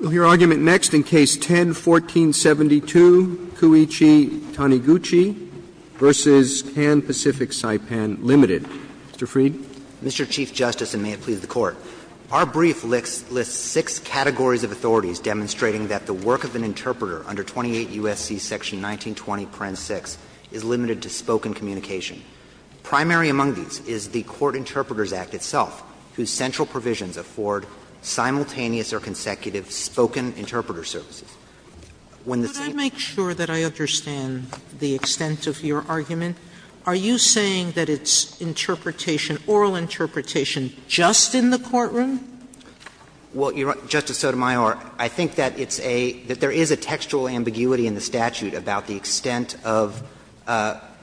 We'll hear argument next in Case 10-1472, Kouichi Taniguchi v. Kan Pacific Saipan, Ltd. Mr. Freed. Mr. Chief Justice, and may it please the Court. Our brief lists six categories of authorities demonstrating that the work of an interpreter under 28 U.S.C. section 1920, parent 6 is limited to spoken communication. Primary among these is the Court Interpreters Act itself, whose central provisions afford simultaneous or consecutive spoken interpreter services. When the same Can I make sure that I understand the extent of your argument? Are you saying that it's interpretation, oral interpretation, just in the courtroom? Well, Justice Sotomayor, I think that it's a — that there is a textual ambiguity in the statute about the extent of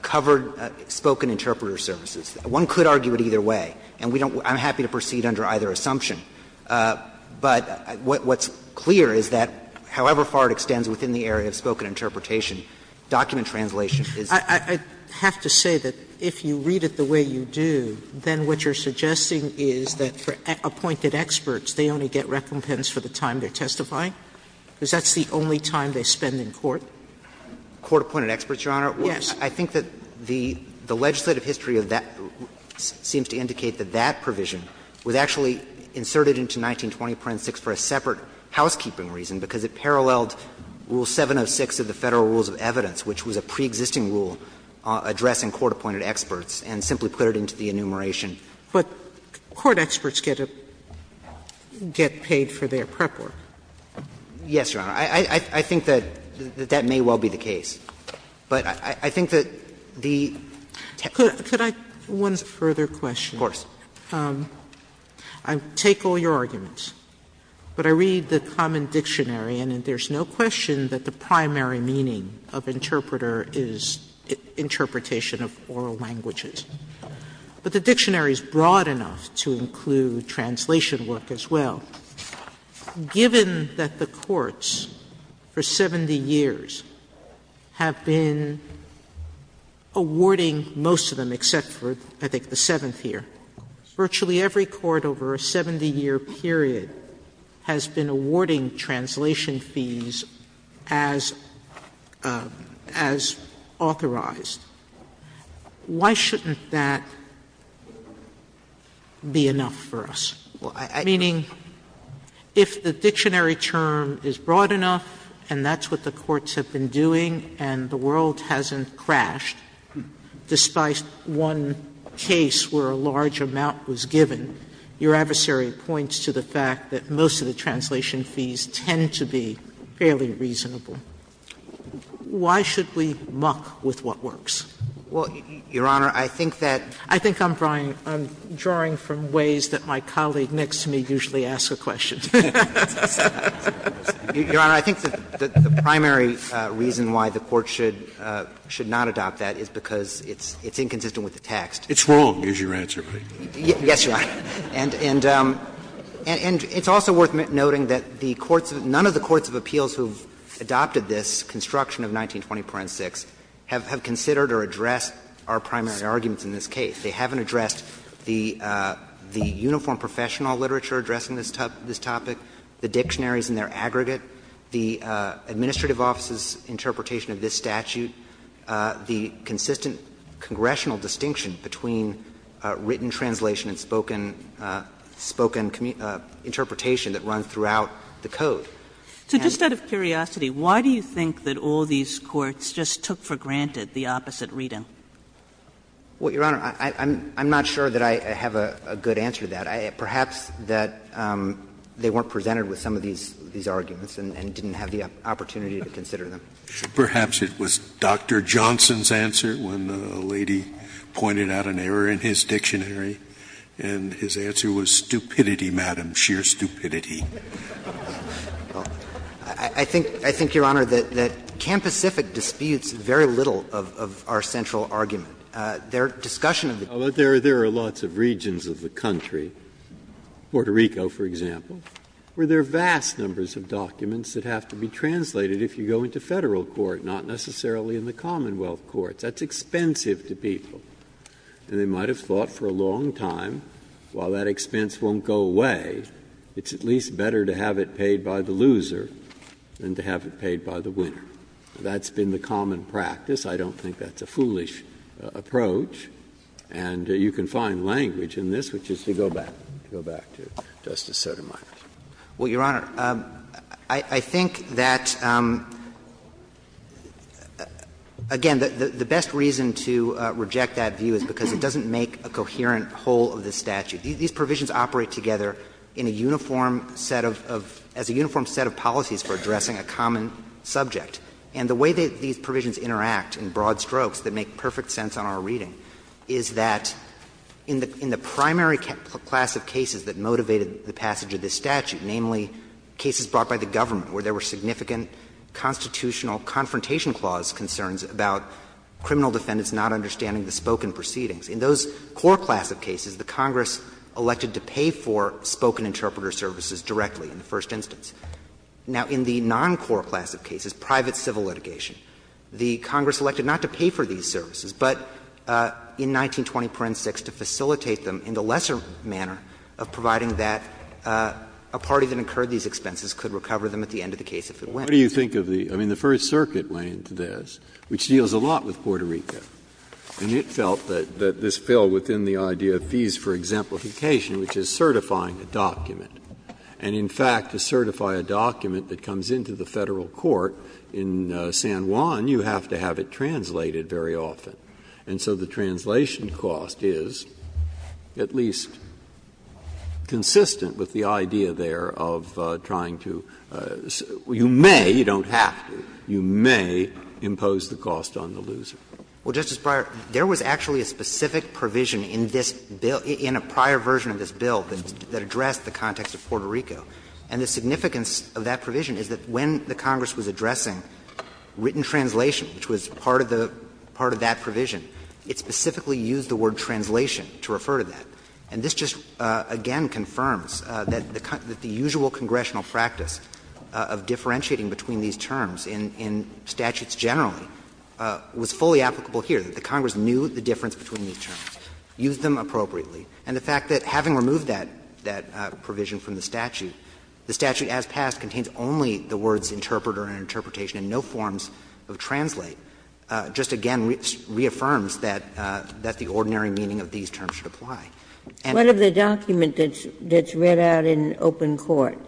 covered spoken interpreter services. One could argue it either way. And we don't — I'm happy to proceed under either assumption. But what's clear is that, however far it extends within the area of spoken interpretation, document translation is — I have to say that if you read it the way you do, then what you're suggesting is that for appointed experts, they only get recompense for the time they're testifying? Because that's the only time they spend in court. Court-appointed experts, Your Honor? Yes. I think that the legislative history of that seems to indicate that that provision was actually inserted into 1920 Parent 6 for a separate housekeeping reason, because it paralleled Rule 706 of the Federal Rules of Evidence, which was a preexisting rule addressing court-appointed experts, and simply put it into the enumeration. But court experts get paid for their prep work. Yes, Your Honor. I think that that may well be the case. But I think that the text… Could I — one further question? Of course. I take all your arguments, but I read the common dictionary, and there's no question that the primary meaning of interpreter is interpretation of oral languages. But the dictionary is broad enough to include translation work as well. Sotomayor, given that the courts for 70 years have been awarding most of them, except for, I think, the seventh year, virtually every court over a 70-year period has been awarding translation fees as authorized, why shouldn't that be enough for us? Meaning, if the dictionary term is broad enough, and that's what the courts have been doing, and the world hasn't crashed, despite one case where a large amount was given, your adversary points to the fact that most of the translation fees tend to be fairly reasonable. Why should we muck with what works? Well, Your Honor, I think that… Sotomayor, I think I'm drawing from ways that my colleague next to me usually asks a question. Your Honor, I think that the primary reason why the Court should not adopt that is because it's inconsistent with the text. It's wrong, is your answer, right? Yes, Your Honor. And it's also worth noting that the courts of — none of the courts of appeals who have adopted this construction of 1920 Parent 6 have considered or addressed our primary arguments in this case. They haven't addressed the uniform professional literature addressing this topic, the dictionaries and their aggregate, the administrative office's interpretation of this statute, the consistent congressional distinction between written translation and spoken — spoken interpretation that run throughout the Code. So just out of curiosity, why do you think that all these courts just took for granted the opposite reading? Well, Your Honor, I'm not sure that I have a good answer to that. Perhaps that they weren't presented with some of these arguments and didn't have the opportunity to consider them. Perhaps it was Dr. Johnson's answer when a lady pointed out an error in his dictionary, and his answer was, stupidity, Madam, sheer stupidity. I think, Your Honor, that Camp Pacific disputes very little of our central argument Their discussion of the courts of appeals is that there are lots of regions of the country, Puerto Rico, for example, where there are vast numbers of documents that have to be translated if you go into Federal court, not necessarily in the Commonwealth courts. That's expensive to people. And they might have thought for a long time, while that expense won't go away, it's at least better to have it paid by the loser than to have it paid by the winner. That's been the common practice. I don't think that's a foolish approach. And you can find language in this, which is to go back, to go back to Justice Sotomayor. Well, Your Honor, I think that, again, the best reason to reject that view is because it doesn't make a coherent whole of the statute. These provisions operate together in a uniform set of – as a uniform set of policies for addressing a common subject. And the way that these provisions interact in broad strokes that make perfect sense on our reading is that in the primary class of cases that motivated the passage of this statute, namely cases brought by the government where there were significant constitutional confrontation clause concerns about criminal defendants not understanding the spoken proceedings, in those core class of cases, the Congress elected to pay for spoken interpreter services directly in the first instance. Now, in the non-core class of cases, private civil litigation, the Congress elected not to pay for these services, but in 1920, paren six, to facilitate them in the lesser manner of providing that a party that incurred these expenses could recover them at the end of the case if it went. Breyer, what do you think of the – I mean, the First Circuit went into this, which deals a lot with Puerto Rico, and it felt that this fell within the idea of fees for exemplification, which is certifying a document. And in fact, to certify a document that comes into the Federal court in San Juan, you have to have it translated very often. And so the translation cost is at least consistent with the idea there of trying to – you may, you don't have to, you may impose the cost on the loser. Well, Justice Breyer, there was actually a specific provision in this bill, in a prior version of this bill, that addressed the context of Puerto Rico. And the significance of that provision is that when the Congress was addressing written translation, which was part of the – part of that provision, it specifically used the word translation to refer to that. And this just, again, confirms that the usual congressional practice of differentiating between these terms in statutes generally was fully applicable here, that the Congress knew the difference between these terms, used them appropriately. And the fact that, having removed that provision from the statute, the statute as passed contains only the words interpreter and interpretation and no forms of translate, just again reaffirms that the ordinary meaning of these terms should apply. And I think that's what we're trying to do here. Ginsburg. What of the document that's read out in open court,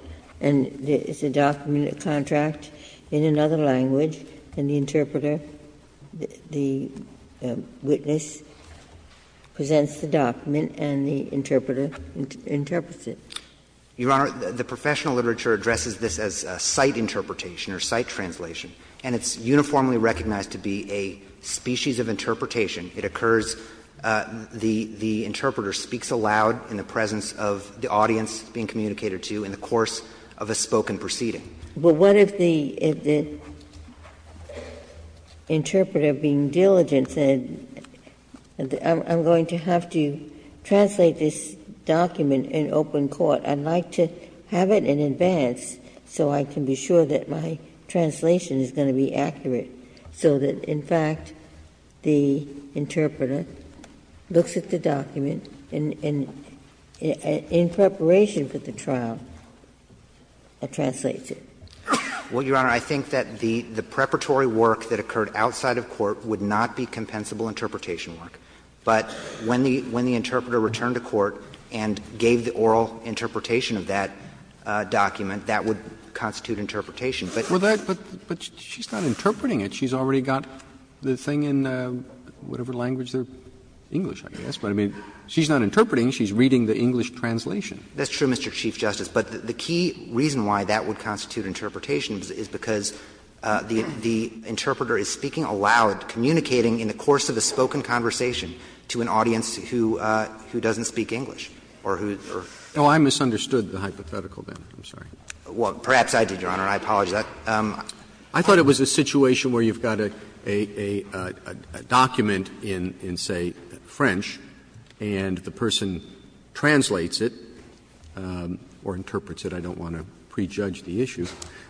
and it's a document, a contract in another language, and the interpreter, the witness presents the document and the interpreter interprets it? Your Honor, the professional literature addresses this as a site interpretation or site translation. And it's uniformly recognized to be a species of interpretation. It occurs, the interpreter speaks aloud in the presence of the audience being communicated to in the course of a spoken proceeding. But what if the interpreter, being diligent, said I'm going to have to translate this document in open court, I'd like to have it in advance so I can be sure that my translation is going to be accurate, so that in fact the interpreter looks at the Well, Your Honor, I think that the preparatory work that occurred outside of court would not be compensable interpretation work. But when the interpreter returned to court and gave the oral interpretation of that document, that would constitute interpretation. But that's what she's not interpreting it. She's already got the thing in whatever language, English, I guess, but I mean, she's not interpreting, she's reading the English translation. That's true, Mr. Chief Justice. But the key reason why that would constitute interpretation is because the interpreter is speaking aloud, communicating in the course of a spoken conversation to an audience who doesn't speak English, or who's or. Roberts, I misunderstood the hypothetical there. I'm sorry. Well, perhaps I did, Your Honor, and I apologize. I thought it was a situation where you've got a document in, say, French, and the I don't want to prejudge the issue,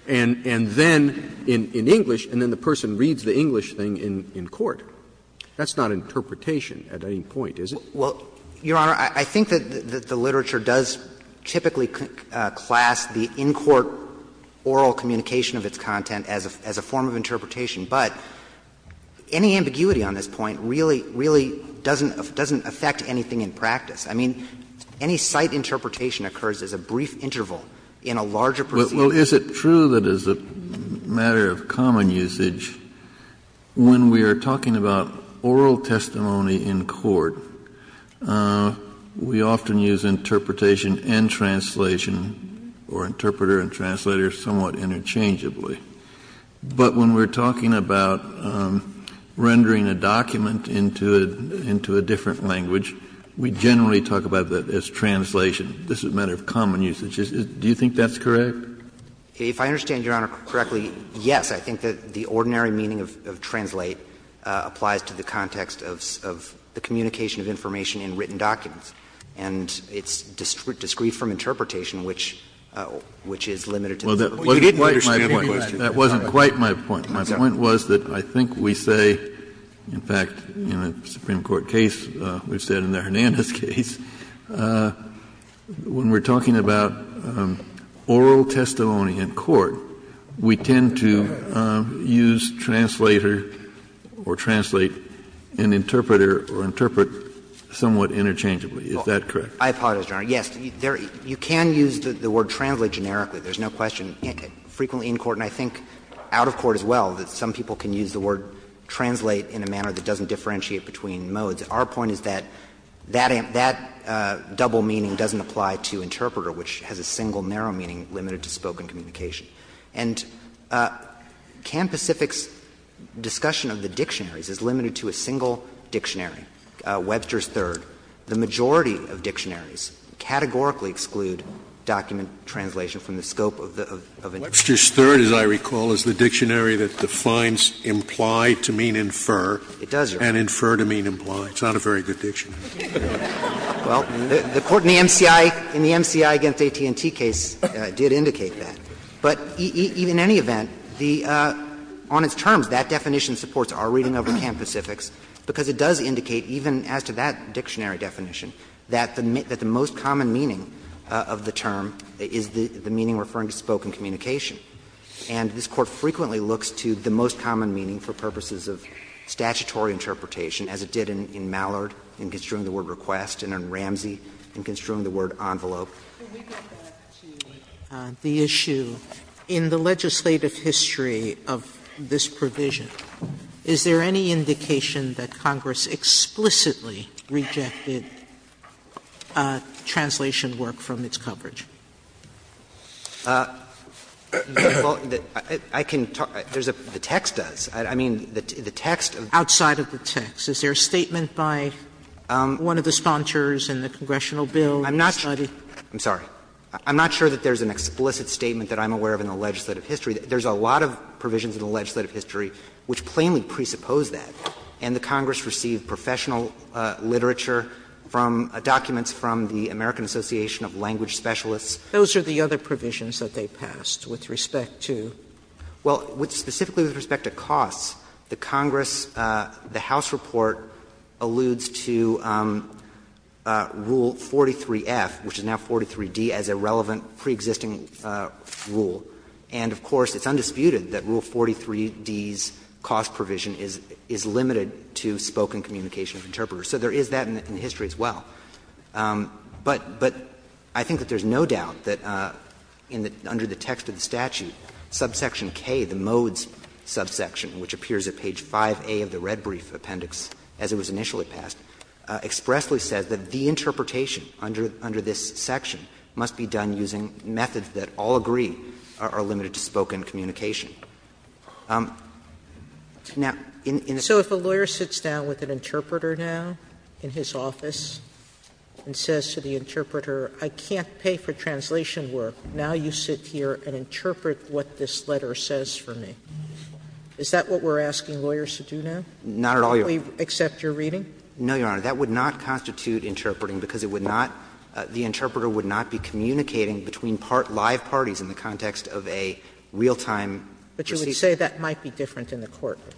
and then in English, and then the person reads the English thing in court. That's not interpretation at any point, is it? Well, Your Honor, I think that the literature does typically class the in-court oral communication of its content as a form of interpretation. But any ambiguity on this point really, really doesn't affect anything in practice. I mean, any site interpretation occurs as a brief interval in a larger procedure. Well, is it true that as a matter of common usage, when we are talking about oral testimony in court, we often use interpretation and translation, or interpreter and translator, somewhat interchangeably. But when we're talking about rendering a document into a different language, we generally talk about that as translation. This is a matter of common usage. Do you think that's correct? If I understand Your Honor correctly, yes. I think that the ordinary meaning of translate applies to the context of the communication of information in written documents. And it's discreet from interpretation, which is limited to the court. Well, you didn't understand the question. That wasn't quite my point. My point was that I think we say, in fact, in a Supreme Court case, we've said in the Supreme Court case, when we're talking about oral testimony in court, we tend to use translator or translate and interpreter or interpret somewhat interchangeably. Is that correct? I apologize, Your Honor. Yes. You can use the word translate generically. There's no question. Frequently in court, and I think out of court as well, that some people can use the word translate in a manner that doesn't differentiate between modes. Our point is that that double meaning doesn't apply to interpreter, which has a single narrow meaning limited to spoken communication. And Can Pacific's discussion of the dictionaries is limited to a single dictionary, Webster's Third. The majority of dictionaries categorically exclude document translation from the scope of an interpreter. Webster's Third, as I recall, is the dictionary that defines implied to mean infer. It does, Your Honor. And infer to mean implied. It's not a very good dictionary. Well, the Court in the MCI against AT&T case did indicate that. But in any event, the — on its terms, that definition supports our reading over Can Pacific's, because it does indicate, even as to that dictionary definition, that the most common meaning of the term is the meaning referring to spoken communication. And this Court frequently looks to the most common meaning for purposes of statutory interpretation, as it did in Mallard, in construing the word request, and in Ramsey, in construing the word envelope. Sotomayor, can we go back to the issue in the legislative history of this provision? Is there any indication that Congress explicitly rejected translation work from its coverage? Well, I can talk — there's a — the text does. I mean, the text of the — Outside of the text. Is there a statement by one of the sponsors in the congressional bill? I'm not sure. I'm sorry. I'm not sure that there's an explicit statement that I'm aware of in the legislative history. There's a lot of provisions in the legislative history which plainly presuppose that. And the Congress received professional literature from documents from the American Association of Language Specialists. Those are the other provisions that they passed with respect to? Well, specifically with respect to costs, the Congress, the House report alludes to Rule 43F, which is now 43D, as a relevant preexisting rule. And, of course, it's undisputed that Rule 43D's cost provision is limited to spoken communication of interpreters. So there is that in the history as well. But I think that there's no doubt that under the text of the statute, subject subsection K, the modes subsection, which appears at page 5A of the red brief appendix as it was initially passed, expressly says that the interpretation under this section must be done using methods that all agree are limited to spoken communication. Now, in the case of this case, it's not limited to spoken communication. Sotomayor, so if a lawyer sits down with an interpreter now in his office and says to the interpreter, I can't pay for translation work, now you sit here and interpret what this letter says for me, is that what we're asking lawyers to do now? Not at all, Your Honor. Do we accept your reading? No, Your Honor. That would not constitute interpreting because it would not be the interpreter would not be communicating between live parties in the context of a real-time receipt. But you would say that might be different in the courtroom?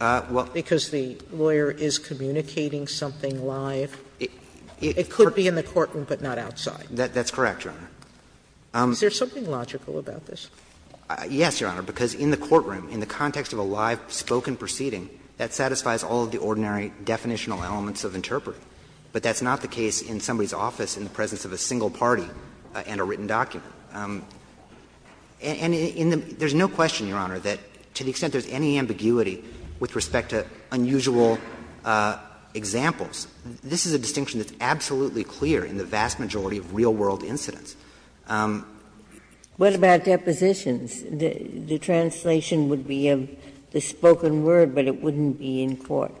Well, because the lawyer is communicating something live. It could be in the courtroom, but not outside. That's correct, Your Honor. Is there something logical about this? Yes, Your Honor, because in the courtroom, in the context of a live spoken proceeding, that satisfies all of the ordinary definitional elements of interpreting. But that's not the case in somebody's office in the presence of a single party and a written document. And in the — there's no question, Your Honor, that to the extent there's any ambiguity with respect to unusual examples, this is a distinction that's absolutely clear in the vast majority of real-world incidents. What about depositions? The translation would be of the spoken word, but it wouldn't be in court.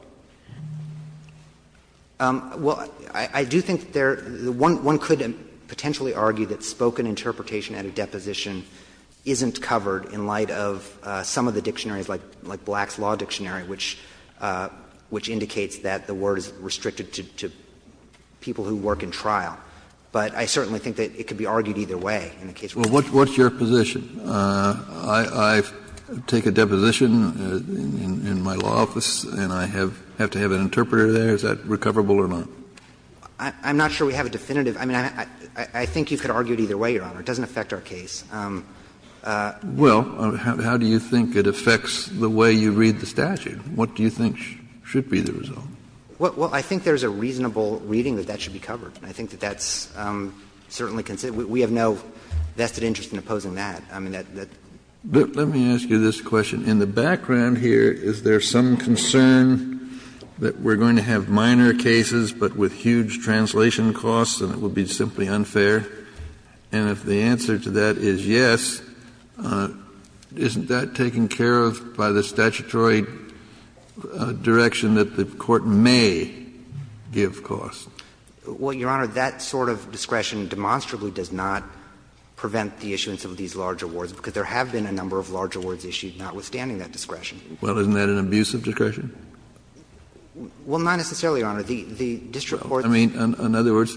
Well, I do think there — one could potentially argue that spoken interpretation at a deposition isn't covered in light of some of the dictionaries, like Black's Law Dictionary, which indicates that the word is restricted to people who work in trial. But I certainly think that it could be argued either way in the case of a deposition. Well, what's your position? I take a deposition in my law office and I have to have an interpreter there. Is that recoverable or not? I'm not sure we have a definitive. I mean, I think you could argue it either way, Your Honor. It doesn't affect our case. Well, how do you think it affects the way you read the statute? What do you think should be the result? Well, I think there's a reasonable reading that that should be covered. I think that that's certainly considered — we have no vested interest in opposing that. I mean, that — Let me ask you this question. In the background here, is there some concern that we're going to have minor cases, but with huge translation costs, and it would be simply unfair? And if the answer to that is yes, isn't that taken care of by the statutory direction that the Court may give costs? Well, Your Honor, that sort of discretion demonstrably does not prevent the issuance of these larger awards, because there have been a number of larger awards issued notwithstanding that discretion. Well, isn't that an abusive discretion? Well, not necessarily, Your Honor. The district court — I mean, in other words,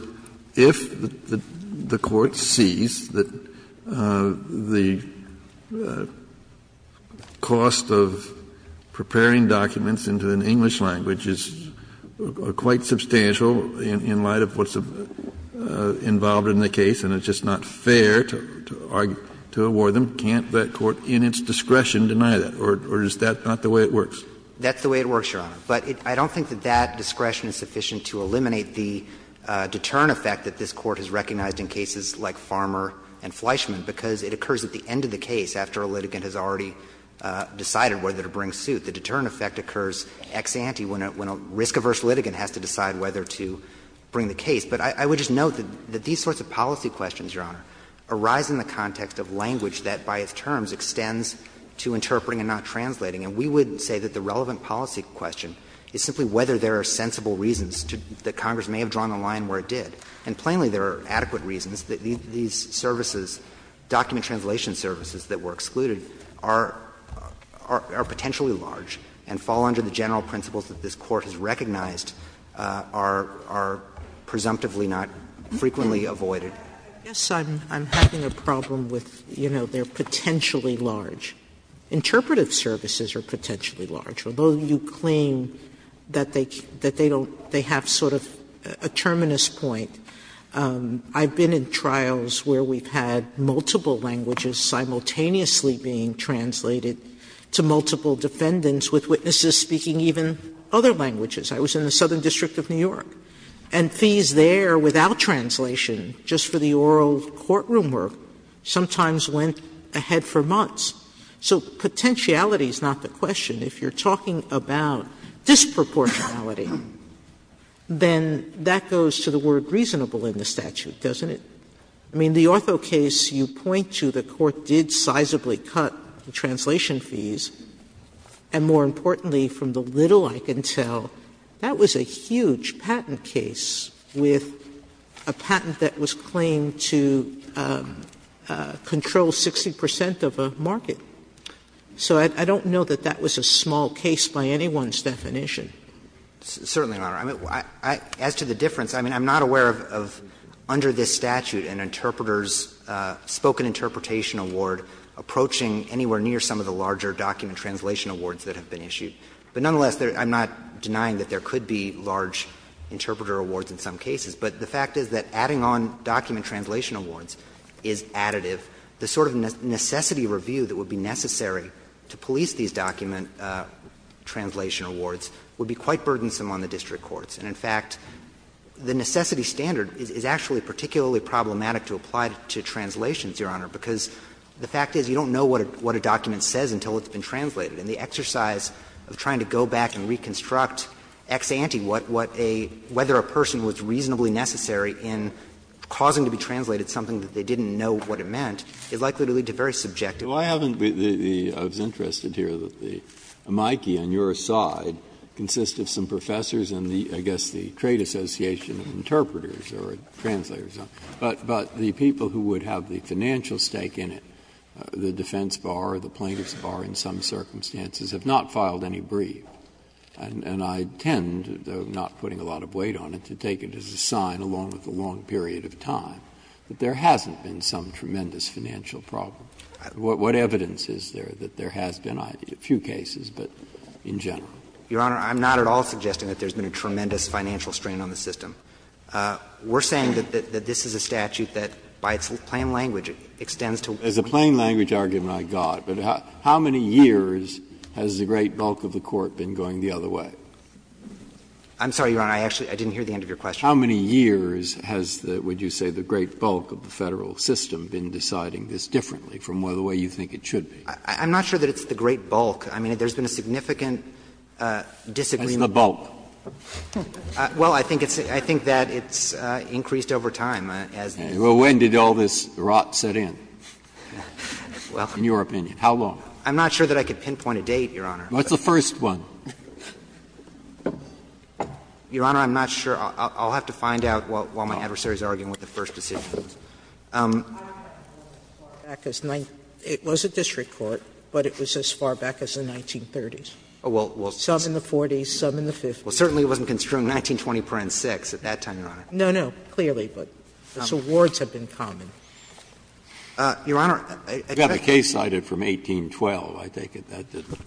if the Court sees that the cost of preparing documents into an English language is quite substantial in light of what's involved in the case and it's just not fair to award them, can't that court in its discretion deny that? Or is that not the way it works? That's the way it works, Your Honor. But I don't think that that discretion is sufficient to eliminate the deterrent effect that this Court has recognized in cases like Farmer v. Fleischman, because it occurs at the end of the case, after a litigant has already decided whether to bring suit. The deterrent effect occurs ex ante when a risk-averse litigant has to decide whether to bring the case. But I would just note that these sorts of policy questions, Your Honor, arise in the context of language that by its terms extends to interpreting and not translating. And we would say that the relevant policy question is simply whether there are sensible reasons that Congress may have drawn the line where it did. And plainly, there are adequate reasons that these services, document translation services that were excluded, are potentially large and fall under the general principles that this Court has recognized are presumptively not frequently Sotomayor Yes, I'm having a problem with, you know, they're potentially large. Interpretive services are potentially large. Although you claim that they don't they have sort of a terminus point, I've been in trials where we've had multiple languages simultaneously being translated to multiple defendants with witnesses speaking even other languages. I was in the Southern District of New York. And fees there, without translation, just for the oral courtroom work, sometimes went ahead for months. So potentiality is not the question. If you're talking about disproportionality, then that goes to the word reasonable in the statute, doesn't it? I mean, the ortho case you point to, the Court did sizably cut the translation fees, and more importantly, from the little I can tell, that was a huge patent case with a patent that was claimed to control 60 percent of a market. So I don't know that that was a small case by anyone's definition. Certainly, Your Honor. As to the difference, I mean, I'm not aware of under this statute an interpreter's spoken interpretation award approaching anywhere near some of the larger document translation awards that have been issued. But nonetheless, I'm not denying that there could be large interpreter awards in some cases, but the fact is that adding on document translation awards is additive. The sort of necessity review that would be necessary to police these document translation awards would be quite burdensome on the district courts. And in fact, the necessity standard is actually particularly problematic to apply to translations, Your Honor, because the fact is you don't know what a document says until it's been translated. And the exercise of trying to go back and reconstruct ex ante what a — whether a person was reasonably necessary in causing to be translated something that they didn't know what it meant is likely to lead to very subjective— Breyer, why haven't the — I was interested to hear that the amici on your side consist of some professors in the, I guess, the Trade Association of Interpreters or translators. But the people who would have the financial stake in it, the defense bar or the plaintiff's bar in some circumstances, have not filed any brief. And I tend, though not putting a lot of weight on it, to take it as a sign, along with the long period of time, that there hasn't been some tremendous financial problem. What evidence is there that there has been, a few cases, but in general? Your Honor, I'm not at all suggesting that there's been a tremendous financial strain on the system. We're saying that this is a statute that, by its plain language, extends to— As a plain language argument, I got. But how many years has the great bulk of the Court been going the other way? I'm sorry, Your Honor, I actually — I didn't hear the end of your question. How many years has the, would you say, the great bulk of the Federal system been deciding this differently from the way you think it should be? I'm not sure that it's the great bulk. I mean, there's been a significant disagreement. As the bulk? Well, I think it's — I think that it's increased over time as the— Well, when did all this rot set in, in your opinion? How long? I'm not sure that I can pinpoint a date, Your Honor. What's the first one? Your Honor, I'm not sure. I'll have to find out while my adversary is arguing what the first decision is. It was a district court, but it was as far back as the 1930s. Some in the 40s, some in the 50s. Well, certainly it wasn't construed in 1920.6 at that time, Your Honor. No, no. Clearly. But its awards have been common. Your Honor, addressing— You've got a case cited from 1812, I take it. That doesn't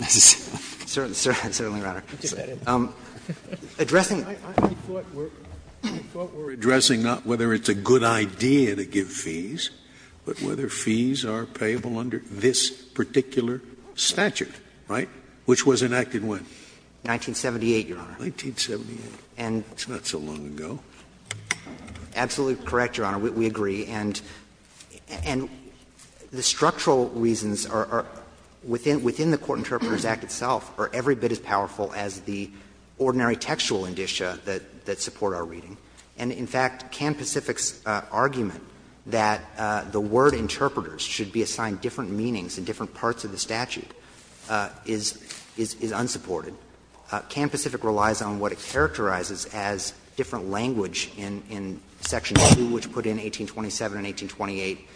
necessarily concern me, Your Honor. Addressing— I thought we were addressing not whether it's a good idea to give fees, but whether fees are payable under this particular statute, right, which was enacted when? 1978, Your Honor. 1978. And— That's not so long ago. Absolutely correct, Your Honor. We agree. And the structural reasons are within the Court Interpreters Act itself are every bit as powerful as the ordinary textual indicia that support our reading. And in fact, Camp Pacific's argument that the word interpreters should be assigned different meanings in different parts of the statute is unsupported. Camp Pacific relies on what it characterizes as different language in section 2, which put in 1827 and 1828,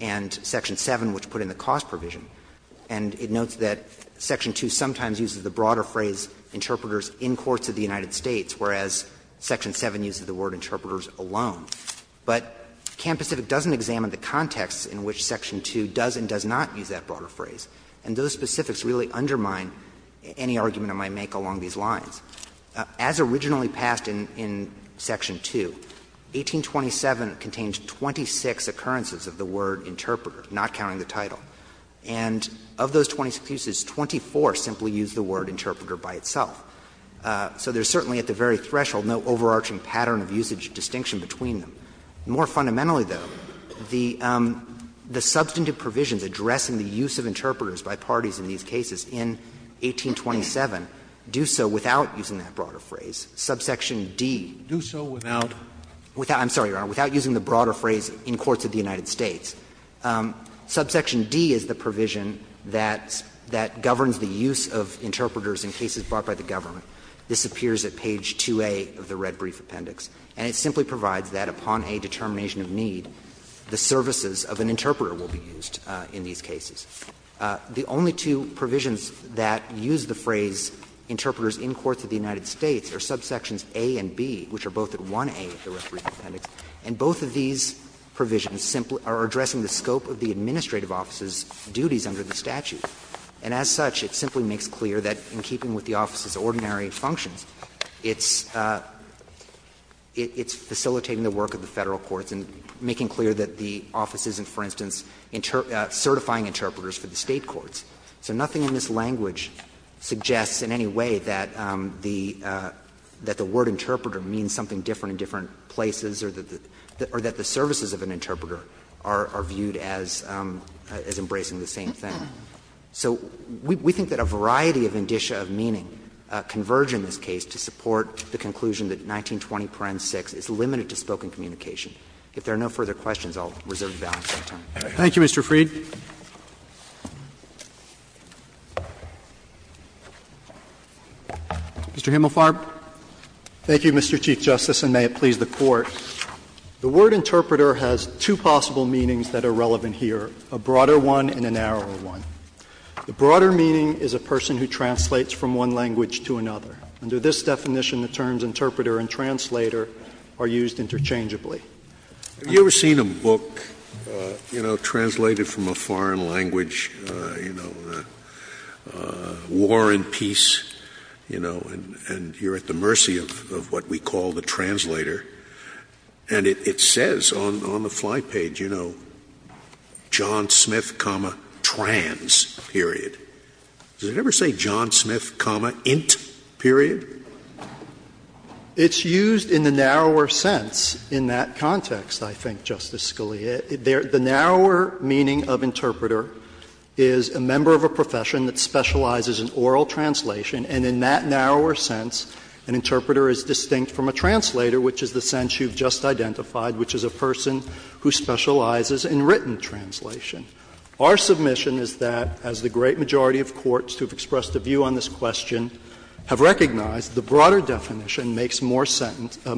and section 7, which put in the cost provision. And it notes that section 2 sometimes uses the broader phrase, interpreters in courts of the United States, whereas section 7 uses the word interpreters alone. But Camp Pacific doesn't examine the context in which section 2 does and does not use that broader phrase, and those specifics really undermine any argument I might make along these lines. As originally passed in section 2, 1827 contains 26 occurrences of the word interpreter, not counting the title. And of those 26 uses, 24 simply use the word interpreter by itself. So there's certainly at the very threshold no overarching pattern of usage distinction between them. More fundamentally, though, the substantive provisions addressing the use of interpreters by parties in these cases in 1827 do so without using that broader phrase. Subsection D. Scalia, do so without. I'm sorry, Your Honor, without using the broader phrase in courts of the United States. Subsection D is the provision that governs the use of interpreters in cases brought by the government. This appears at page 2A of the red brief appendix. And it simply provides that upon a determination of need, the services of an interpreter will be used in these cases. The only two provisions that use the phrase interpreters in courts of the United States are subsections A and B, which are both at 1A of the red brief appendix. And both of these provisions simply are addressing the scope of the administrative office's duties under the statute. And as such, it simply makes clear that in keeping with the office's ordinary functions, it's facilitating the work of the Federal courts and making clear that the office isn't, for instance, certifying interpreters for the State courts. So nothing in this language suggests in any way that the word interpreter means something different in different places or that the services of an interpreter are viewed as embracing the same thing. So we think that a variety of indicia of meaning converge in this case to support the conclusion that 1920, parent 6 is limited to spoken communication. If there are no further questions, I'll reserve the balance of my time. Roberts. Thank you, Mr. Freed. Mr. Himmelfarb. Thank you, Mr. Chief Justice, and may it please the Court. The word interpreter has two possible meanings that are relevant here, a broader one and a narrower one. The broader meaning is a person who translates from one language to another. Under this definition, the terms interpreter and translator are used interchangeably. Have you ever seen a book, you know, translated from a foreign language, you know, War and Peace, you know, and you're at the mercy of what we call the translator, and it says on the fly page, you know, John Smith, comma, trans, period. Does it ever say John Smith, comma, int, period? It's used in the narrower sense in that context, I think, Justice Scalia. The narrower meaning of interpreter is a member of a profession that specializes in oral translation, and in that narrower sense, an interpreter is distinct from a translator, which is the sense you've just identified, which is a person who specializes in written translation. Our submission is that, as the great majority of courts who have expressed a view on this question have recognized, the broader definition makes more sense in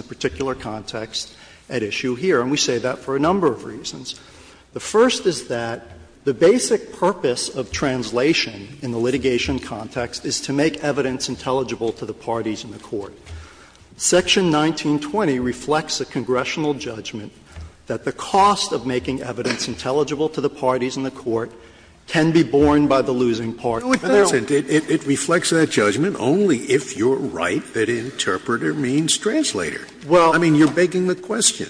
the particular context at issue here, and we say that for a number of reasons. The first is that the basic purpose of translation in the litigation context is to make evidence intelligible to the parties in the court. Section 1920 reflects a congressional judgment that the cost of making evidence intelligible to the parties in the court can be borne by the losing party. Scalia. Scalia. It reflects that judgment only if you're right that interpreter means translator. I mean, you're begging the question.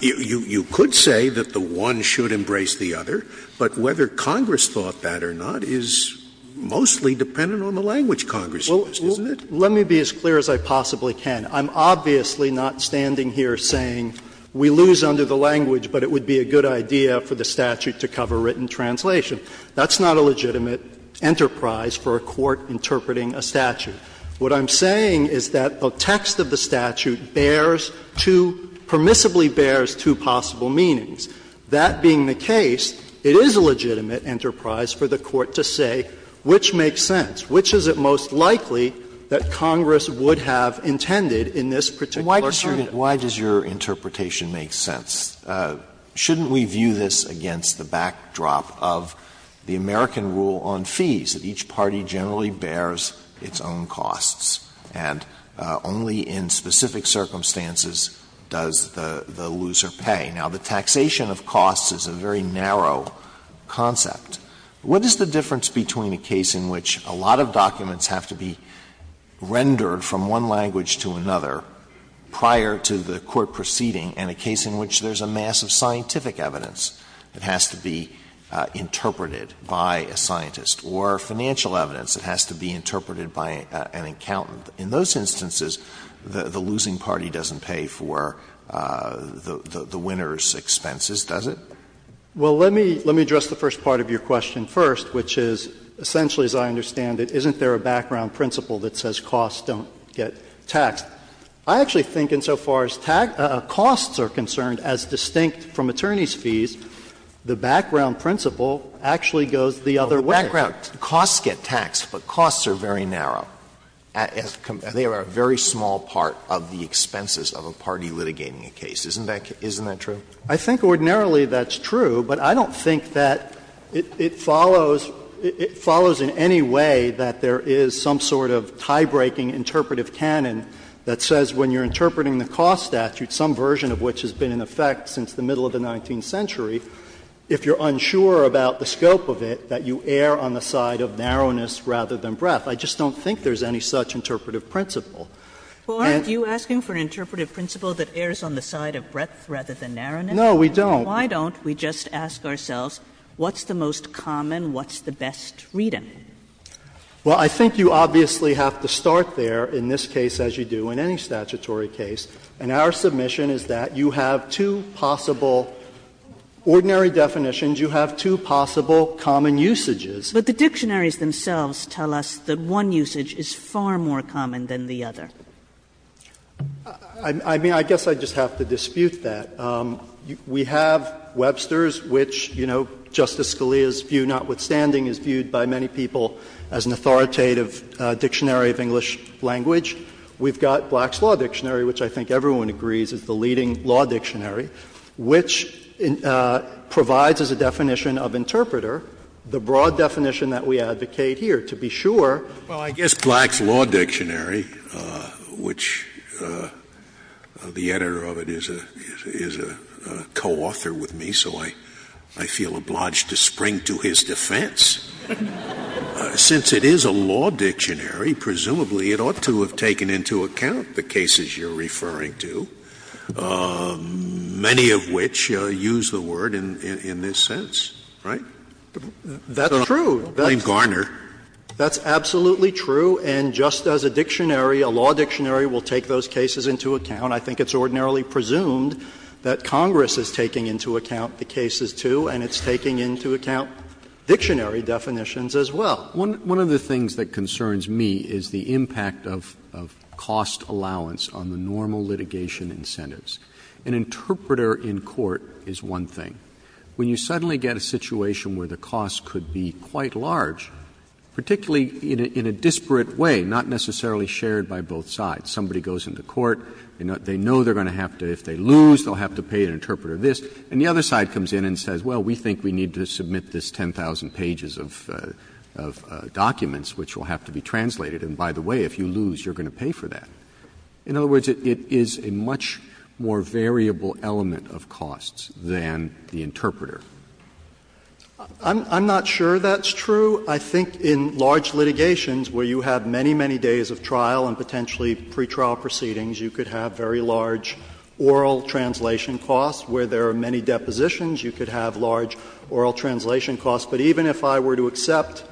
You could say that the one should embrace the other, but whether Congress thought that or not is mostly dependent on the language Congress used, isn't it? Let me be as clear as I possibly can. I'm obviously not standing here saying we lose under the language, but it would be a good idea for the statute to cover written translation. That's not a legitimate enterprise for a court interpreting a statute. What I'm saying is that a text of the statute bears two, permissibly bears two possible meanings. That being the case, it is a legitimate enterprise for the court to say which makes sense, which is it most likely that Congress would have intended in this particular context. Alito Why does your interpretation make sense? Shouldn't we view this against the backdrop of the American rule on fees, that each person pays certain costs, and only in specific circumstances does the loser pay? Now, the taxation of costs is a very narrow concept. What is the difference between a case in which a lot of documents have to be rendered from one language to another prior to the court proceeding, and a case in which there's a mass of scientific evidence that has to be interpreted by a scientist or financial evidence that has to be interpreted by an accountant? In those instances, the losing party doesn't pay for the winner's expenses, does it? Well, let me address the first part of your question first, which is essentially, as I understand it, isn't there a background principle that says costs don't get taxed? I actually think insofar as costs are concerned, as distinct from attorneys' fees, the background principle actually goes the other way. Costs get taxed, but costs are very narrow. They are a very small part of the expenses of a party litigating a case. Isn't that true? I think ordinarily that's true, but I don't think that it follows in any way that there is some sort of tie-breaking interpretive canon that says when you're interpreting the cost statute, some version of which has been in effect since the middle of the I just don't think there's any such interpretive principle. Well, aren't you asking for an interpretive principle that errs on the side of breadth rather than narrowness? No, we don't. Why don't we just ask ourselves what's the most common, what's the best reading? Well, I think you obviously have to start there in this case, as you do in any statutory case, and our submission is that you have two possible ordinary definitions, you have two possible common usages. But the dictionaries themselves tell us that one usage is far more common than the other. I mean, I guess I just have to dispute that. We have Webster's, which, you know, Justice Scalia's view notwithstanding is viewed by many people as an authoritative dictionary of English language. We've got Black's Law Dictionary, which I think everyone agrees is the leading law dictionary, which provides as a definition of interpreter the broad definition that we advocate here, to be sure. Scalia. Well, I guess Black's Law Dictionary, which the editor of it is a co-author with me, so I feel obliged to spring to his defense. Since it is a law dictionary, presumably it ought to have taken into account the cases you're referring to. Many of which use the word in this sense, right? That's true. That's absolutely true. And just as a dictionary, a law dictionary will take those cases into account, I think it's ordinarily presumed that Congress is taking into account the cases too, and it's taking into account dictionary definitions as well. One of the things that concerns me is the impact of cost allowance on the normal litigation incentives. An interpreter in court is one thing. When you suddenly get a situation where the cost could be quite large, particularly in a disparate way, not necessarily shared by both sides, somebody goes into court, they know they're going to have to — if they lose, they'll have to pay an interpreter this, and the other side comes in and says, well, we think we need to submit this 10,000 pages of documents, which will have to be translated, and by the way, if you want to do that, that is a much more variable element of costs than the interpreter. I'm not sure that's true. I think in large litigations where you have many, many days of trial and potentially pretrial proceedings, you could have very large oral translation costs. Where there are many depositions, you could have large oral translation costs. But even if I were to accept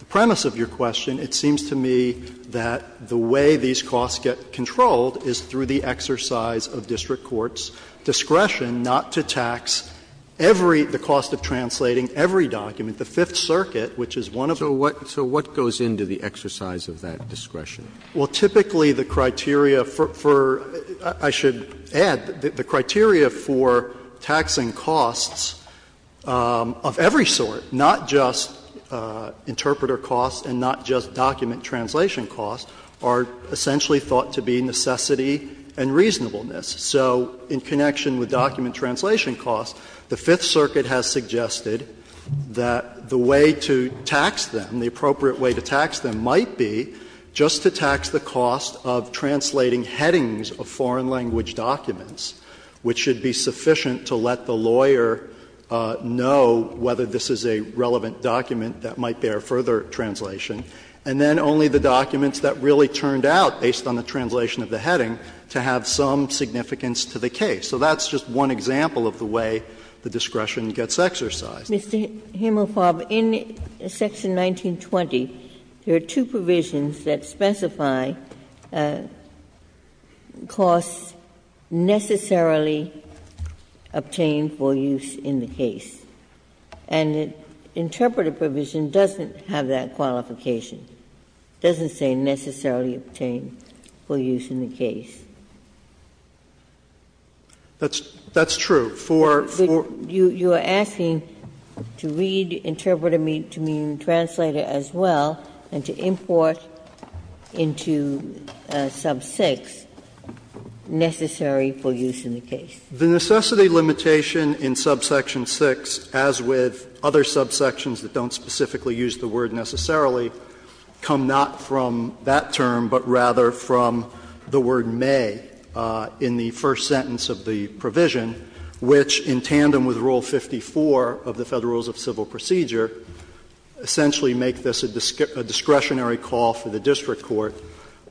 the premise of your question, it seems to me that the way these costs get controlled is through the exercise of district court's discretion not to tax every — the cost of translating every document. The Fifth Circuit, which is one of the ones that does that, is one of the ones that does that. Roberts. So what goes into the exercise of that discretion? Well, typically the criteria for — I should add, the criteria for taxing costs of every sort, not just interpreter costs and not just document translation costs, are essentially thought to be necessity and reasonableness. So in connection with document translation costs, the Fifth Circuit has suggested that the way to tax them, the appropriate way to tax them might be just to tax the cost of translating headings of foreign language documents, which should be sufficient to let the lawyer know whether this is a relevant document that might bear further translation. And then only the documents that really turned out, based on the translation of the heading, to have some significance to the case. So that's just one example of the way the discretion gets exercised. Ginsburg. Mr. Himelfarb, in Section 1920, there are two provisions that specify costs necessarily obtained for use in the case. And the interpreter provision doesn't have that qualification. It doesn't say necessarily obtained for use in the case. That's true. For the— You are asking to read interpreter to mean translator as well and to import into sub 6, necessary for use in the case. The necessity limitation in subsection 6, as with other subsections that don't specifically use the word necessarily, come not from that term, but rather from the word may in the first sentence of the provision, which in tandem with Rule 54 of the Federal Rules of Civil Procedure essentially make this a discretionary call for the district court.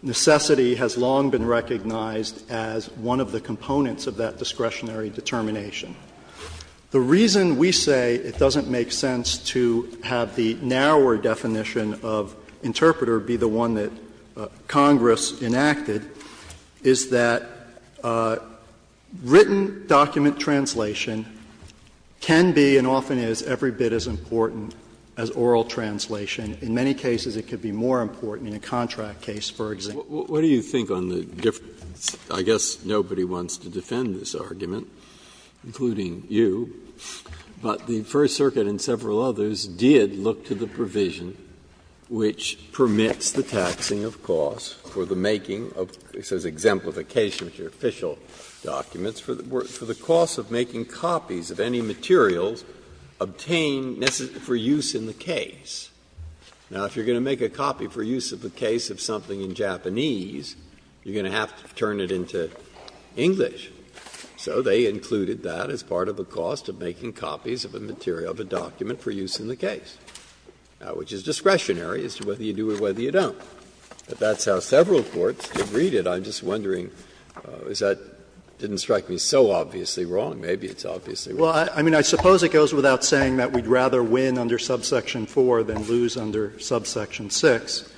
Necessity has long been recognized as one of the components of that discretionary determination. The reason we say it doesn't make sense to have the narrower definition of interpreter be the one that Congress enacted is that written document translation can be and often is every bit as important as oral translation. In many cases it could be more important in a contract case, for example. Breyer. What do you think on the difference? I guess nobody wants to defend this argument, including you, but the First Circuit and several others did look to the provision which permits the taxing of costs for the making of, it says exemplification of official documents, for the cost of making copies of any materials obtained for use in the case. Now, if you're going to make a copy for use of a case of something in Japanese, you're going to have to turn it into English. So they included that as part of the cost of making copies of a material, of a document for use in the case, which is discretionary as to whether you do it or whether you don't. But that's how several courts did read it. I'm just wondering if that didn't strike me so obviously wrong. Maybe it's obviously wrong. Well, I mean, I suppose it goes without saying that we'd rather win under subsection 4 than lose under subsection 6.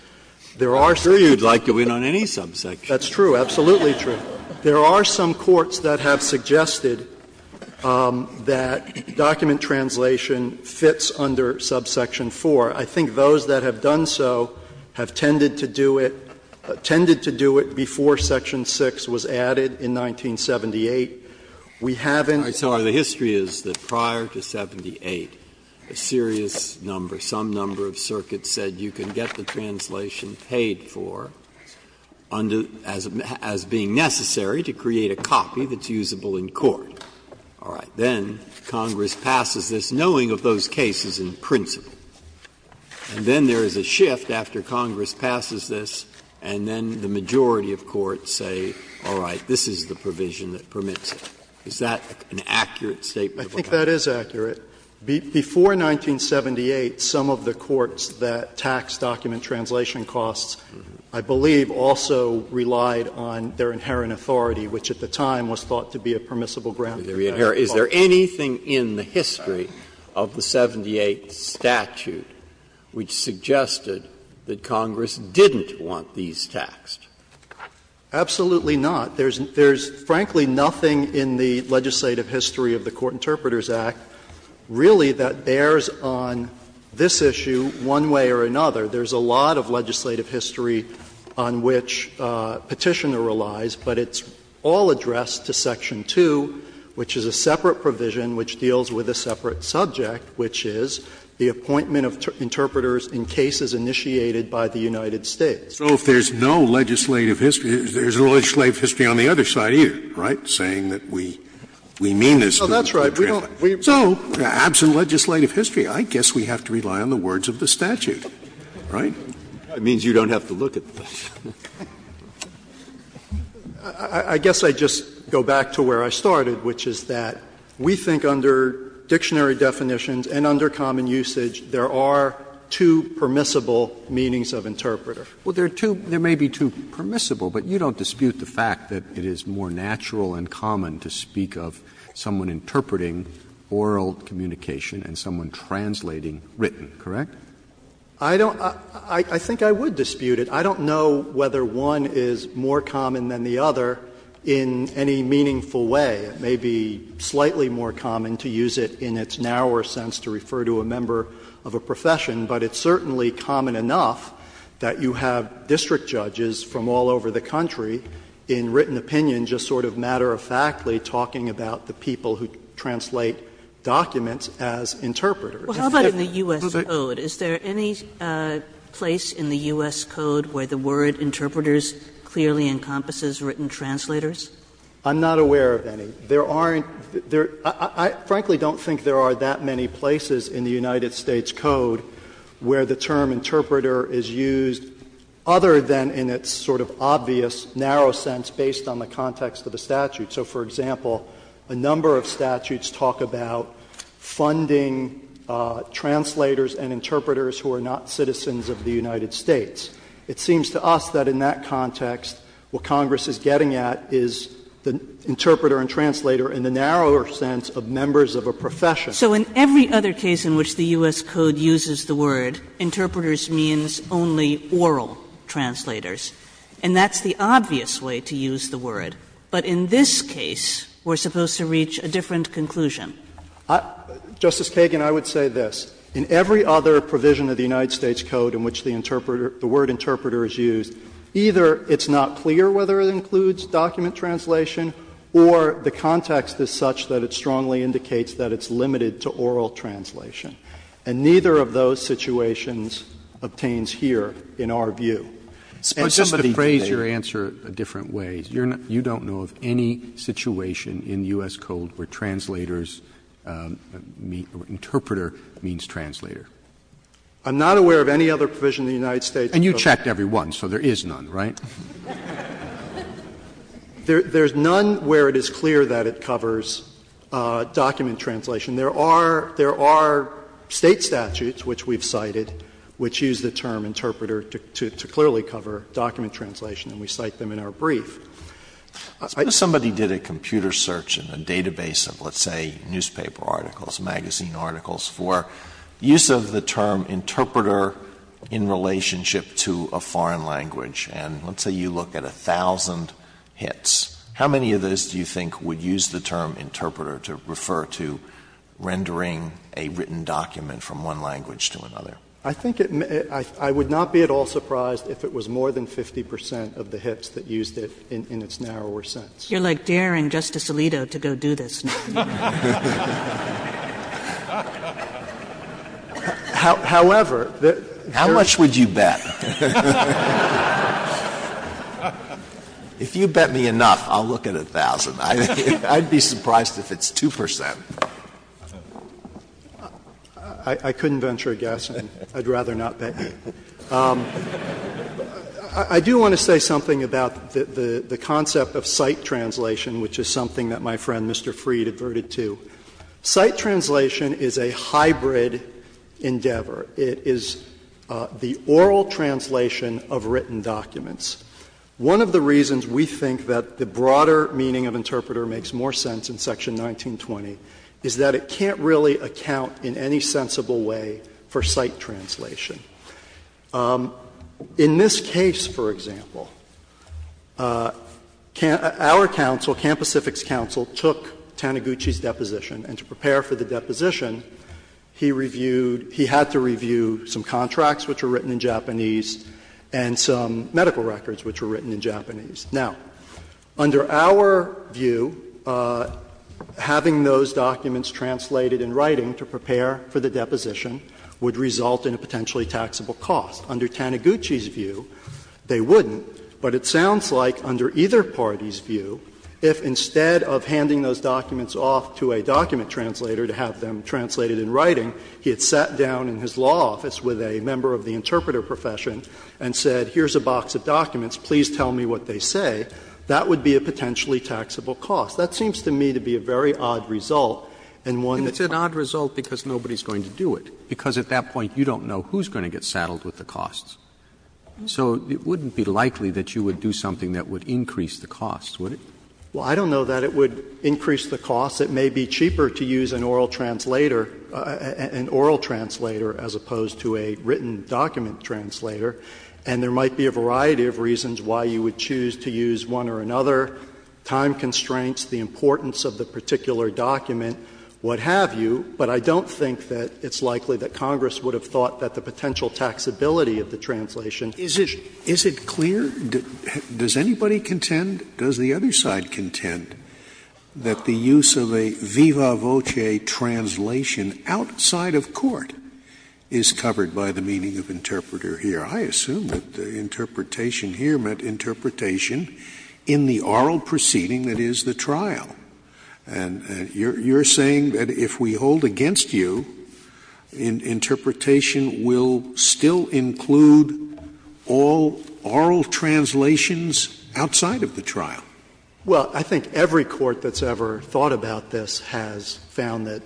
There are some. I'm sure you'd like to win on any subsection. That's true, absolutely true. There are some courts that have suggested that document translation fits under subsection 4. I think those that have done so have tended to do it, tended to do it before section 6 was added in 1978. We haven't. Breyer, I'm sorry, the history is that prior to 78, a serious number, some number of circuits said you can get the translation paid for as being necessary to create a copy that's usable in court. All right. Then Congress passes this, knowing of those cases in principle. And then there is a shift after Congress passes this, and then the majority of courts say, all right, this is the provision that permits it. Is that an accurate statement of what happened? I think that is accurate. Before 1978, some of the courts that taxed document translation costs, I believe, also relied on their inherent authority, which at the time was thought to be a permissible ground to re-inherit. Is there anything in the history of the 78 statute which suggested that Congress didn't want these taxed? Absolutely not. There is frankly nothing in the legislative history of the Court Interpreters Act really that bears on this issue one way or another. There is a lot of legislative history on which Petitioner relies, but it's all addressed to section 2, which is a separate provision which deals with a separate subject, which is the appointment of interpreters in cases initiated by the United States. So if there is no legislative history, there is no legislative history on the other side either, right, saying that we mean this to the interpreter. Well, that's right. We don't. So absent legislative history, I guess we have to rely on the words of the statute, right? That means you don't have to look at the statute. I guess I would just go back to where I started, which is that we think under dictionary definitions and under common usage, there are two permissible meanings of interpreter. Well, there are two — there may be two permissible, but you don't dispute the fact that it is more natural and common to speak of someone interpreting oral communication and someone translating written, correct? I don't — I think I would dispute it. I don't know whether one is more common than the other in any meaningful way. It may be slightly more common to use it in its narrower sense to refer to a member of a profession, but it's certainly common enough that you have district judges from all over the country in written opinion just sort of matter-of-factly talking about the people who translate documents as interpreters. How about in the U.S. code? Is there any place in the U.S. code where the word "-interpreters clearly encompasses written translators"? I'm not aware of any. There aren't – I frankly don't think there are that many places in the U.S. code where the term interpreter is used other than in its sort of obvious, narrow sense based on the context of the statute. So, for example, a number of statutes talk about funding translators and interpreters who are not citizens of the United States. It seems to us that in that context what Congress is getting at is the interpreter and translator in the narrower sense of members of a profession. Kagan So in every other case in which the U.S. code uses the word, interpreters means only oral translators, and that's the obvious way to use the word. But in this case, we're supposed to reach a different conclusion. I – Justice Kagan, I would say this. In every other provision of the United States code in which the word interpreter the context is such that it strongly indicates that it's limited to oral translation. And neither of those situations obtains here in our view. Roberts But just to phrase your answer a different way, you don't know of any situation in U.S. code where translators mean – interpreter means translator? Kagan I'm not aware of any other provision in the United States code. Roberts And you checked every one, so there is none, right? Kagan There's none where it is clear that it covers document translation. There are – there are State statutes, which we've cited, which use the term interpreter to clearly cover document translation, and we cite them in our brief. Alito Suppose somebody did a computer search in a database of, let's say, newspaper articles, magazine articles, for use of the term interpreter in relationship to a foreign language. And let's say you look at 1,000 hits. How many of those do you think would use the term interpreter to refer to rendering a written document from one language to another? Kagan I think it – I would not be at all surprised if it was more than 50 percent of the hits that used it in its narrower sense. Kagan You're, like, daring Justice Alito to go do this. Alito However, there's – Breyer How much would you bet? If you bet me enough, I'll look at 1,000. I'd be surprised if it's 2 percent. Kagan I couldn't venture a guess, and I'd rather not bet you. I do want to say something about the concept of cite translation, which is something that my friend, Mr. Freed, adverted to. Cite translation is a hybrid endeavor. It is the oral translation of written documents. One of the reasons we think that the broader meaning of interpreter makes more sense in Section 1920 is that it can't really account in any sensible way for cite translation. In this case, for example, our counsel, Camp Pacific's counsel, took Taniguchi's view, having those documents translated in writing to prepare for the deposition would result in a potentially taxable cost. Under Taniguchi's view, they wouldn't, but it sounds like under either party's view, if instead of handing those documents off to a document translator to have them translated in writing, he had sat down in his law office with a member of the interpreter profession and said, here's a box of documents, please tell me what they say, that would be a potentially taxable cost. That seems to me to be a very odd result, and one that's not. Roberts And it's an odd result because nobody's going to do it, because at that point you don't know who's going to get saddled with the costs. So it wouldn't be likely that you would do something that would increase the costs, would it? Well, I don't know that it would increase the costs. It may be cheaper to use an oral translator as opposed to a written document translator, and there might be a variety of reasons why you would choose to use one or another, time constraints, the importance of the particular document, what have you, but I don't think that it's likely that Congress would have thought that the use of a viva voce translation outside of court is covered by the meaning of interpreter here. I assume that the interpretation here meant interpretation in the oral proceeding that is the trial, and you're saying that if we hold against you, interpretation will still include all oral translations outside of the trial. Well, I think every court that's ever thought about this has found that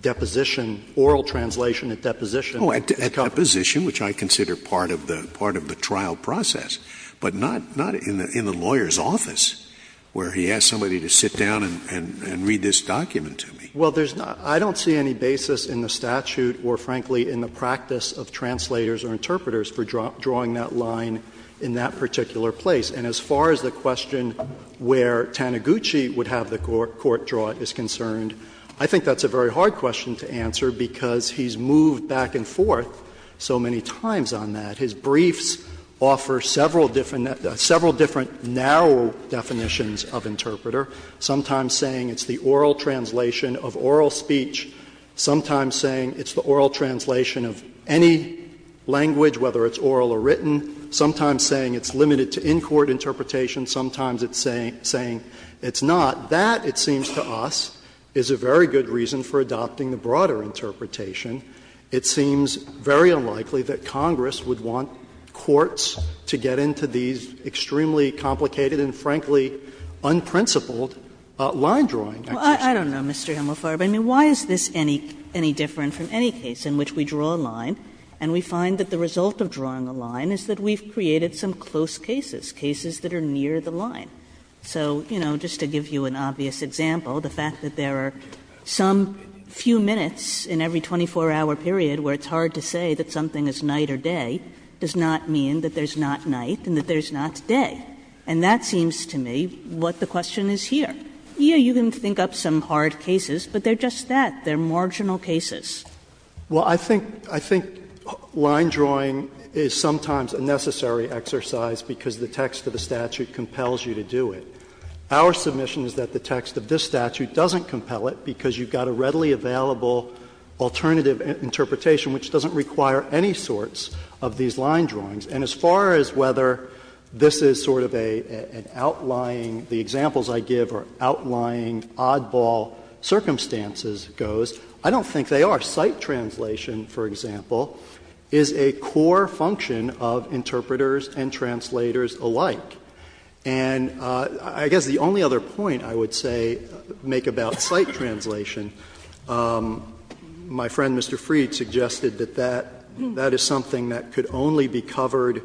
deposition oral translation at deposition Oh, at deposition, which I consider part of the trial process, but not in the lawyer's office where he has somebody to sit down and read this document to me. Well, there's not — I don't see any basis in the statute or, frankly, in the practice of translators or interpreters for drawing that line in that particular place. And as far as the question where Taniguchi would have the court draw it is concerned, I think that's a very hard question to answer because he's moved back and forth so many times on that. His briefs offer several different, several different narrow definitions of interpreter, sometimes saying it's the oral translation of oral speech, sometimes saying it's the oral translation of any language, whether it's oral or written, sometimes saying it's limited to in-court interpretation, sometimes it's saying it's not. That, it seems to us, is a very good reason for adopting the broader interpretation. It seems very unlikely that Congress would want courts to get into these extremely complicated and, frankly, unprincipled line-drawing exercises. Kagan. Well, I don't know, Mr. Hemelfarb. I mean, why is this any different from any case in which we draw a line and we find that the result of drawing a line is that we've created some close cases, cases that are near the line? So, you know, just to give you an obvious example, the fact that there are some few minutes in every 24-hour period where it's hard to say that something is night or day does not mean that there's not night and that there's not day. And that seems to me what the question is here. Yes, you can think up some hard cases, but they're just that, they're marginal cases. Well, I think, I think line-drawing is sometimes a necessary exercise because the text of the statute compels you to do it. Our submission is that the text of this statute doesn't compel it because you've got a readily available alternative interpretation which doesn't require any sorts of these line drawings. And as far as whether this is sort of an outlying, the examples I give are outlying oddball circumstances goes, I don't think they are. Sight translation, for example, is a core function of interpreters and translators alike. And I guess the only other point I would say, make about sight translation, my friend Mr. Freed suggested that that, that is something that could only be covered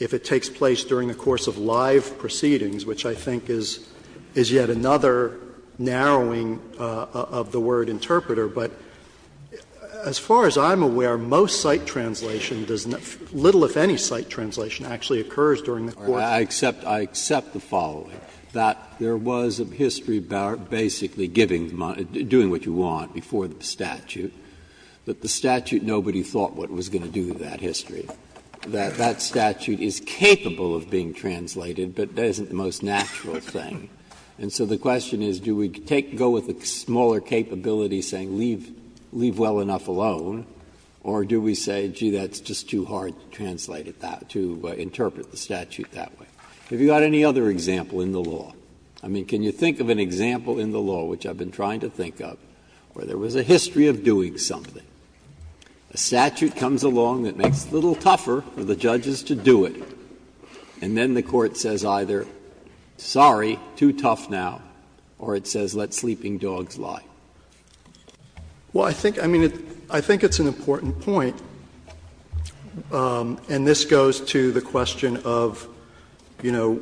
if it takes place during the course of live proceedings, which I think is, is yet another narrowing of the word interpreter. But as far as I'm aware, most sight translation does not, little if any sight translation actually occurs during the course of a case. Breyer, I accept, I accept the following, that there was a history basically giving, doing what you want before the statute, but the statute, nobody thought what it was going to do to that history. That that statute is capable of being translated, but that isn't the most natural thing. And so the question is, do we take, go with a smaller capability saying, leave, leave well enough alone, or do we say, gee, that's just too hard to translate it that, to interpret the statute that way. Have you got any other example in the law? I mean, can you think of an example in the law, which I've been trying to think of, where there was a history of doing something. A statute comes along that makes it a little tougher for the judges to do it, and then the court says either, sorry, too tough now, or it says let sleeping dogs lie. Well, I think, I mean, it, I think it's an important point, and this goes to the question of, you know,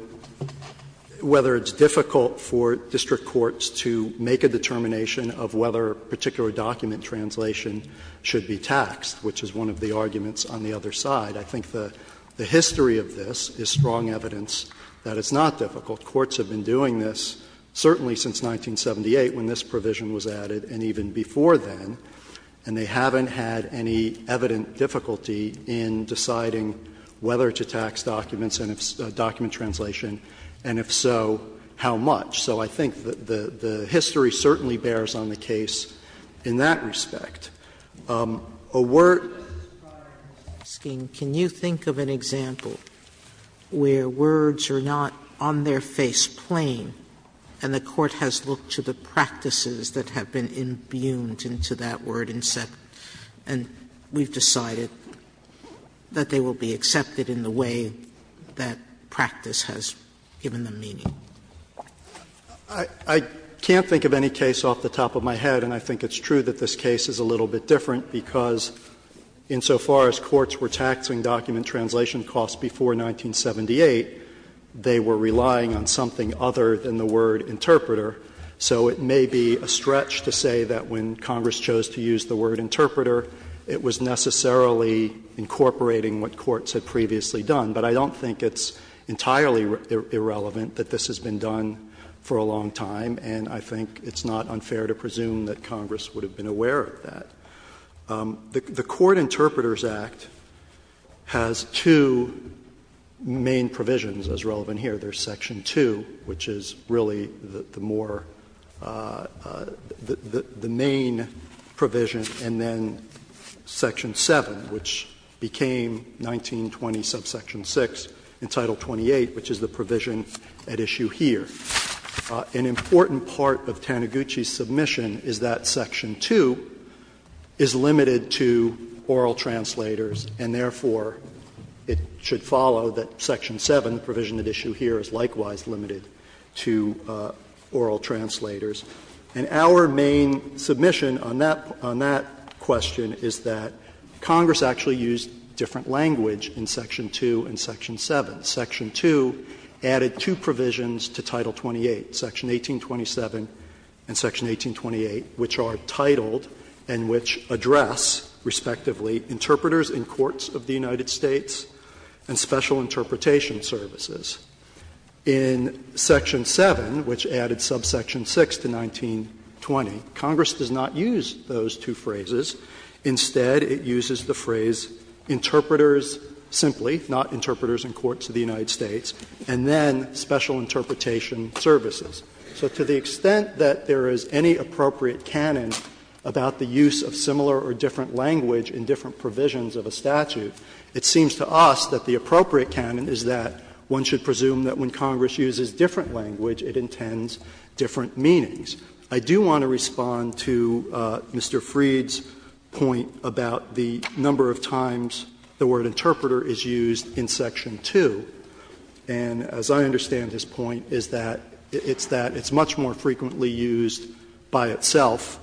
whether it's difficult for district courts to make a determination of whether a particular document translation should be taxed, which is one of the arguments on the other side. I think the history of this is strong evidence that it's not difficult. Courts have been doing this certainly since 1978, when this provision was added, and even before then, and they haven't had any evident difficulty in deciding whether to tax documents and if, document translation, and if so, how much. So I think the history certainly bears on the case in that respect. A word. Sotomayor, can you think of an example where words are not on their face plain, and the court has looked to the practices that have been imbued into that word and said, and we've decided that they will be accepted in the way that practice has given the meaning? I can't think of any case off the top of my head, and I think it's true that this case is a little bit different, because insofar as courts were taxing document translation costs before 1978, they were relying on something other than the word interpreter. So it may be a stretch to say that when Congress chose to use the word interpreter, it was necessarily incorporating what courts had previously done, but I don't think it's entirely irrelevant that this has been done for a long time, and I think it's not unfair to presume that Congress would have been aware of that. The Court Interpreters Act has two main provisions as relevant here. There's Section 2, which is really the more — the main provision, and then Section 7, which became 1920 subsection 6 in Title 28, which is the provision at issue here. An important part of Taniguchi's submission is that Section 2 is limited to oral translators, and therefore, it should follow that Section 7, the provision at issue here, is likewise limited to oral translators. And our main submission on that question is that Congress actually used different language in Section 2 and Section 7. Section 2 added two provisions to Title 28, Section 1827 and Section 1828, which are titled and which address, respectively, interpreters in courts of the United States and special interpretation services. In Section 7, which added subsection 6 to 1920, Congress does not use those two phrases. Instead, it uses the phrase interpreters simply, not interpreters in courts of the United States, and then special interpretation services. So to the extent that there is any appropriate canon about the use of similar or different language in different provisions of a statute, it seems to us that the appropriate canon is that one should presume that when Congress uses different language, it intends different meanings. I do want to respond to Mr. Freed's point about the number of times the word interpreter is used in Section 2. And as I understand his point, it's that it's much more frequently used by itself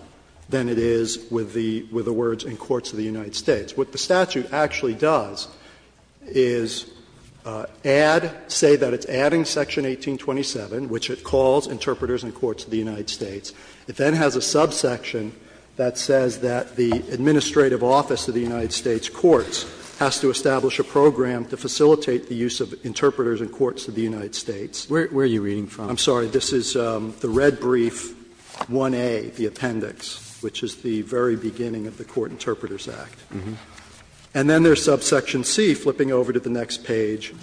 than it is with the words in courts of the United States. What the statute actually does is add, say that it's adding Section 1827, which it calls interpreters in courts of the United States. It then has a subsection that says that the administrative office of the United States courts has to establish a program to facilitate the use of interpreters in courts of the United States. Roberts. Where are you reading from? I'm sorry. This is the red brief, 1A, the appendix, which is the very beginning of the Court Interpreters Act. And then there is subsection C, flipping over to the next page,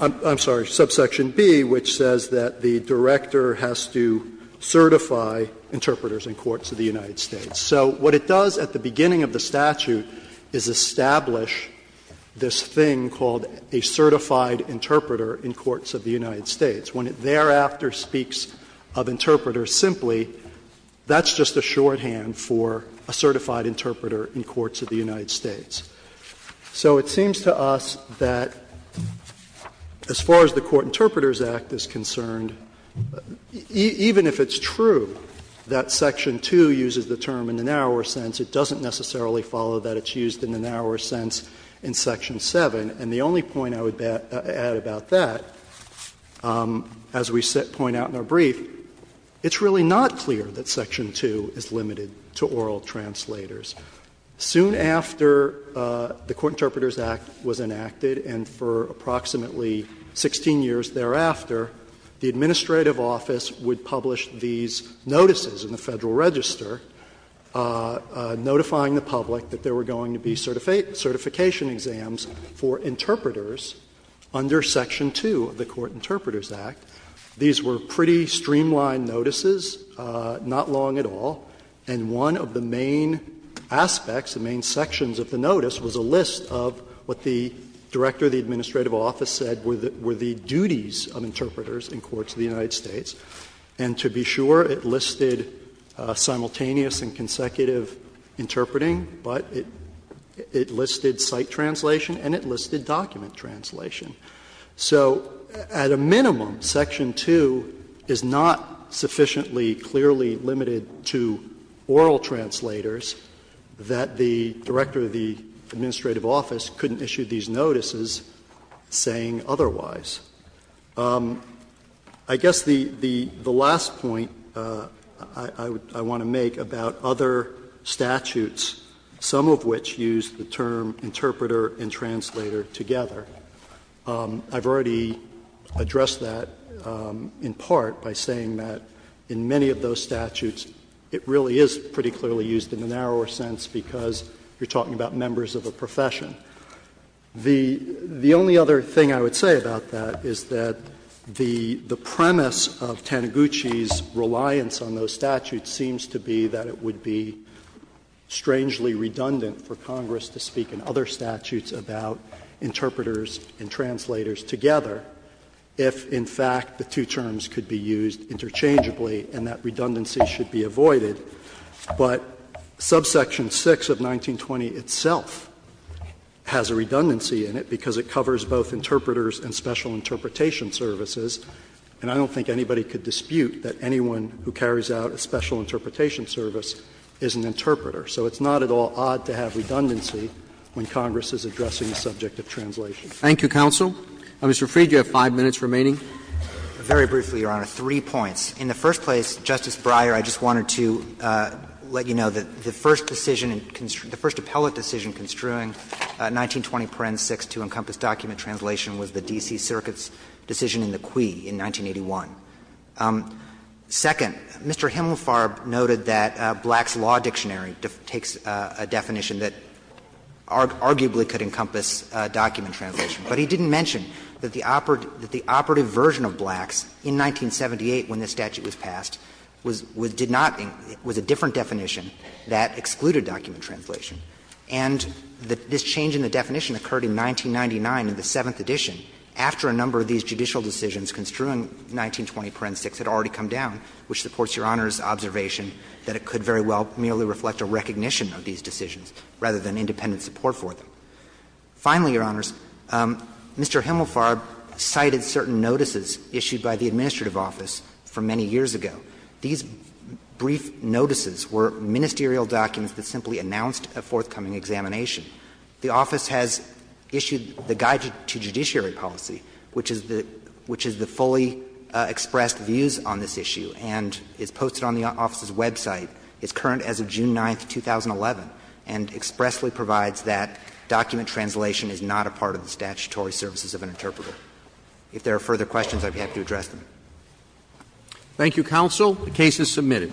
I'm sorry, subsection B, which says that the director has to certify interpreters in courts of the United States. So what it does at the beginning of the statute is establish this thing called a certified interpreter in courts of the United States. When it thereafter speaks of interpreters simply, that's just a shorthand for a certified interpreter in courts of the United States. So it seems to us that as far as the Court Interpreters Act is concerned, even if it's true that Section 2 uses the term in the narrower sense, it doesn't necessarily follow that it's used in the narrower sense in Section 7. And the only point I would add about that, as we point out in our brief, it's really not clear that Section 2 is limited to oral translators. Soon after the Court Interpreters Act was enacted, and for approximately 16 years thereafter, the administrative office would publish these notices in the Federal Register notifying the public that there were going to be certification exams for interpreters under Section 2 of the Court Interpreters Act. These were pretty streamlined notices, not long at all. And one of the main aspects, the main sections of the notice was a list of what the director of the administrative office said were the duties of interpreters in courts of the United States. And to be sure, it listed simultaneous and consecutive interpreting, but it listed site translation and it listed document translation. So at a minimum, Section 2 is not sufficiently clearly limited to oral translators that the director of the administrative office couldn't issue these notices saying otherwise. I guess the last point I want to make about other statutes, some of which use the term interpreter and translator together. I've already addressed that in part by saying that in many of those statutes, it really is pretty clearly used in the narrower sense because you're talking about members of a profession. The only other thing I would say about that is that the premise of Taniguchi's reliance on those statutes seems to be that it would be strangely redundant for Congress to speak in other statutes about interpreters and translators together if, in fact, the two terms could be used interchangeably and that redundancy should be avoided. But subsection 6 of 1920 itself has a redundancy in it because it covers both interpreters and special interpretation services, and I don't think anybody could dispute that anyone who carries out a special interpretation service is an interpreter. So it's not at all odd to have redundancy when Congress is addressing the subject of translation. Roberts. Thank you, counsel. Mr. Freed, you have 5 minutes remaining. Very briefly, Your Honor, three points. In the first place, Justice Breyer, I just wanted to let you know that the first decision, the first appellate decision construing 1920 paren 6 to encompass document translation was the D.C. Circuit's decision in the Quay in 1981. Second, Mr. Himmelfarb noted that Black's Law Dictionary takes a definition that arguably could encompass document translation, but he didn't mention that the operative version of Black's in 1978, when this statute was passed, was a different definition that excluded document translation. And this change in the definition occurred in 1999 in the 7th edition, after a number of these judicial decisions construing 1920 paren 6 had already come down, which supports Your Honor's observation that it could very well merely reflect a recognition of these decisions rather than independent support for them. Finally, Your Honors, Mr. Himmelfarb cited certain notices issued by the administrative office for many years ago. These brief notices were ministerial documents that simply announced a forthcoming examination. The office has issued the Guide to Judiciary Policy, which is the fully expressed views on this issue, and is posted on the office's website. It's current as of June 9, 2011, and expressly provides that document translation is not a part of the statutory services of an interpreter. If there are further questions, I would be happy to address them. Roberts. Thank you, counsel. The case is submitted.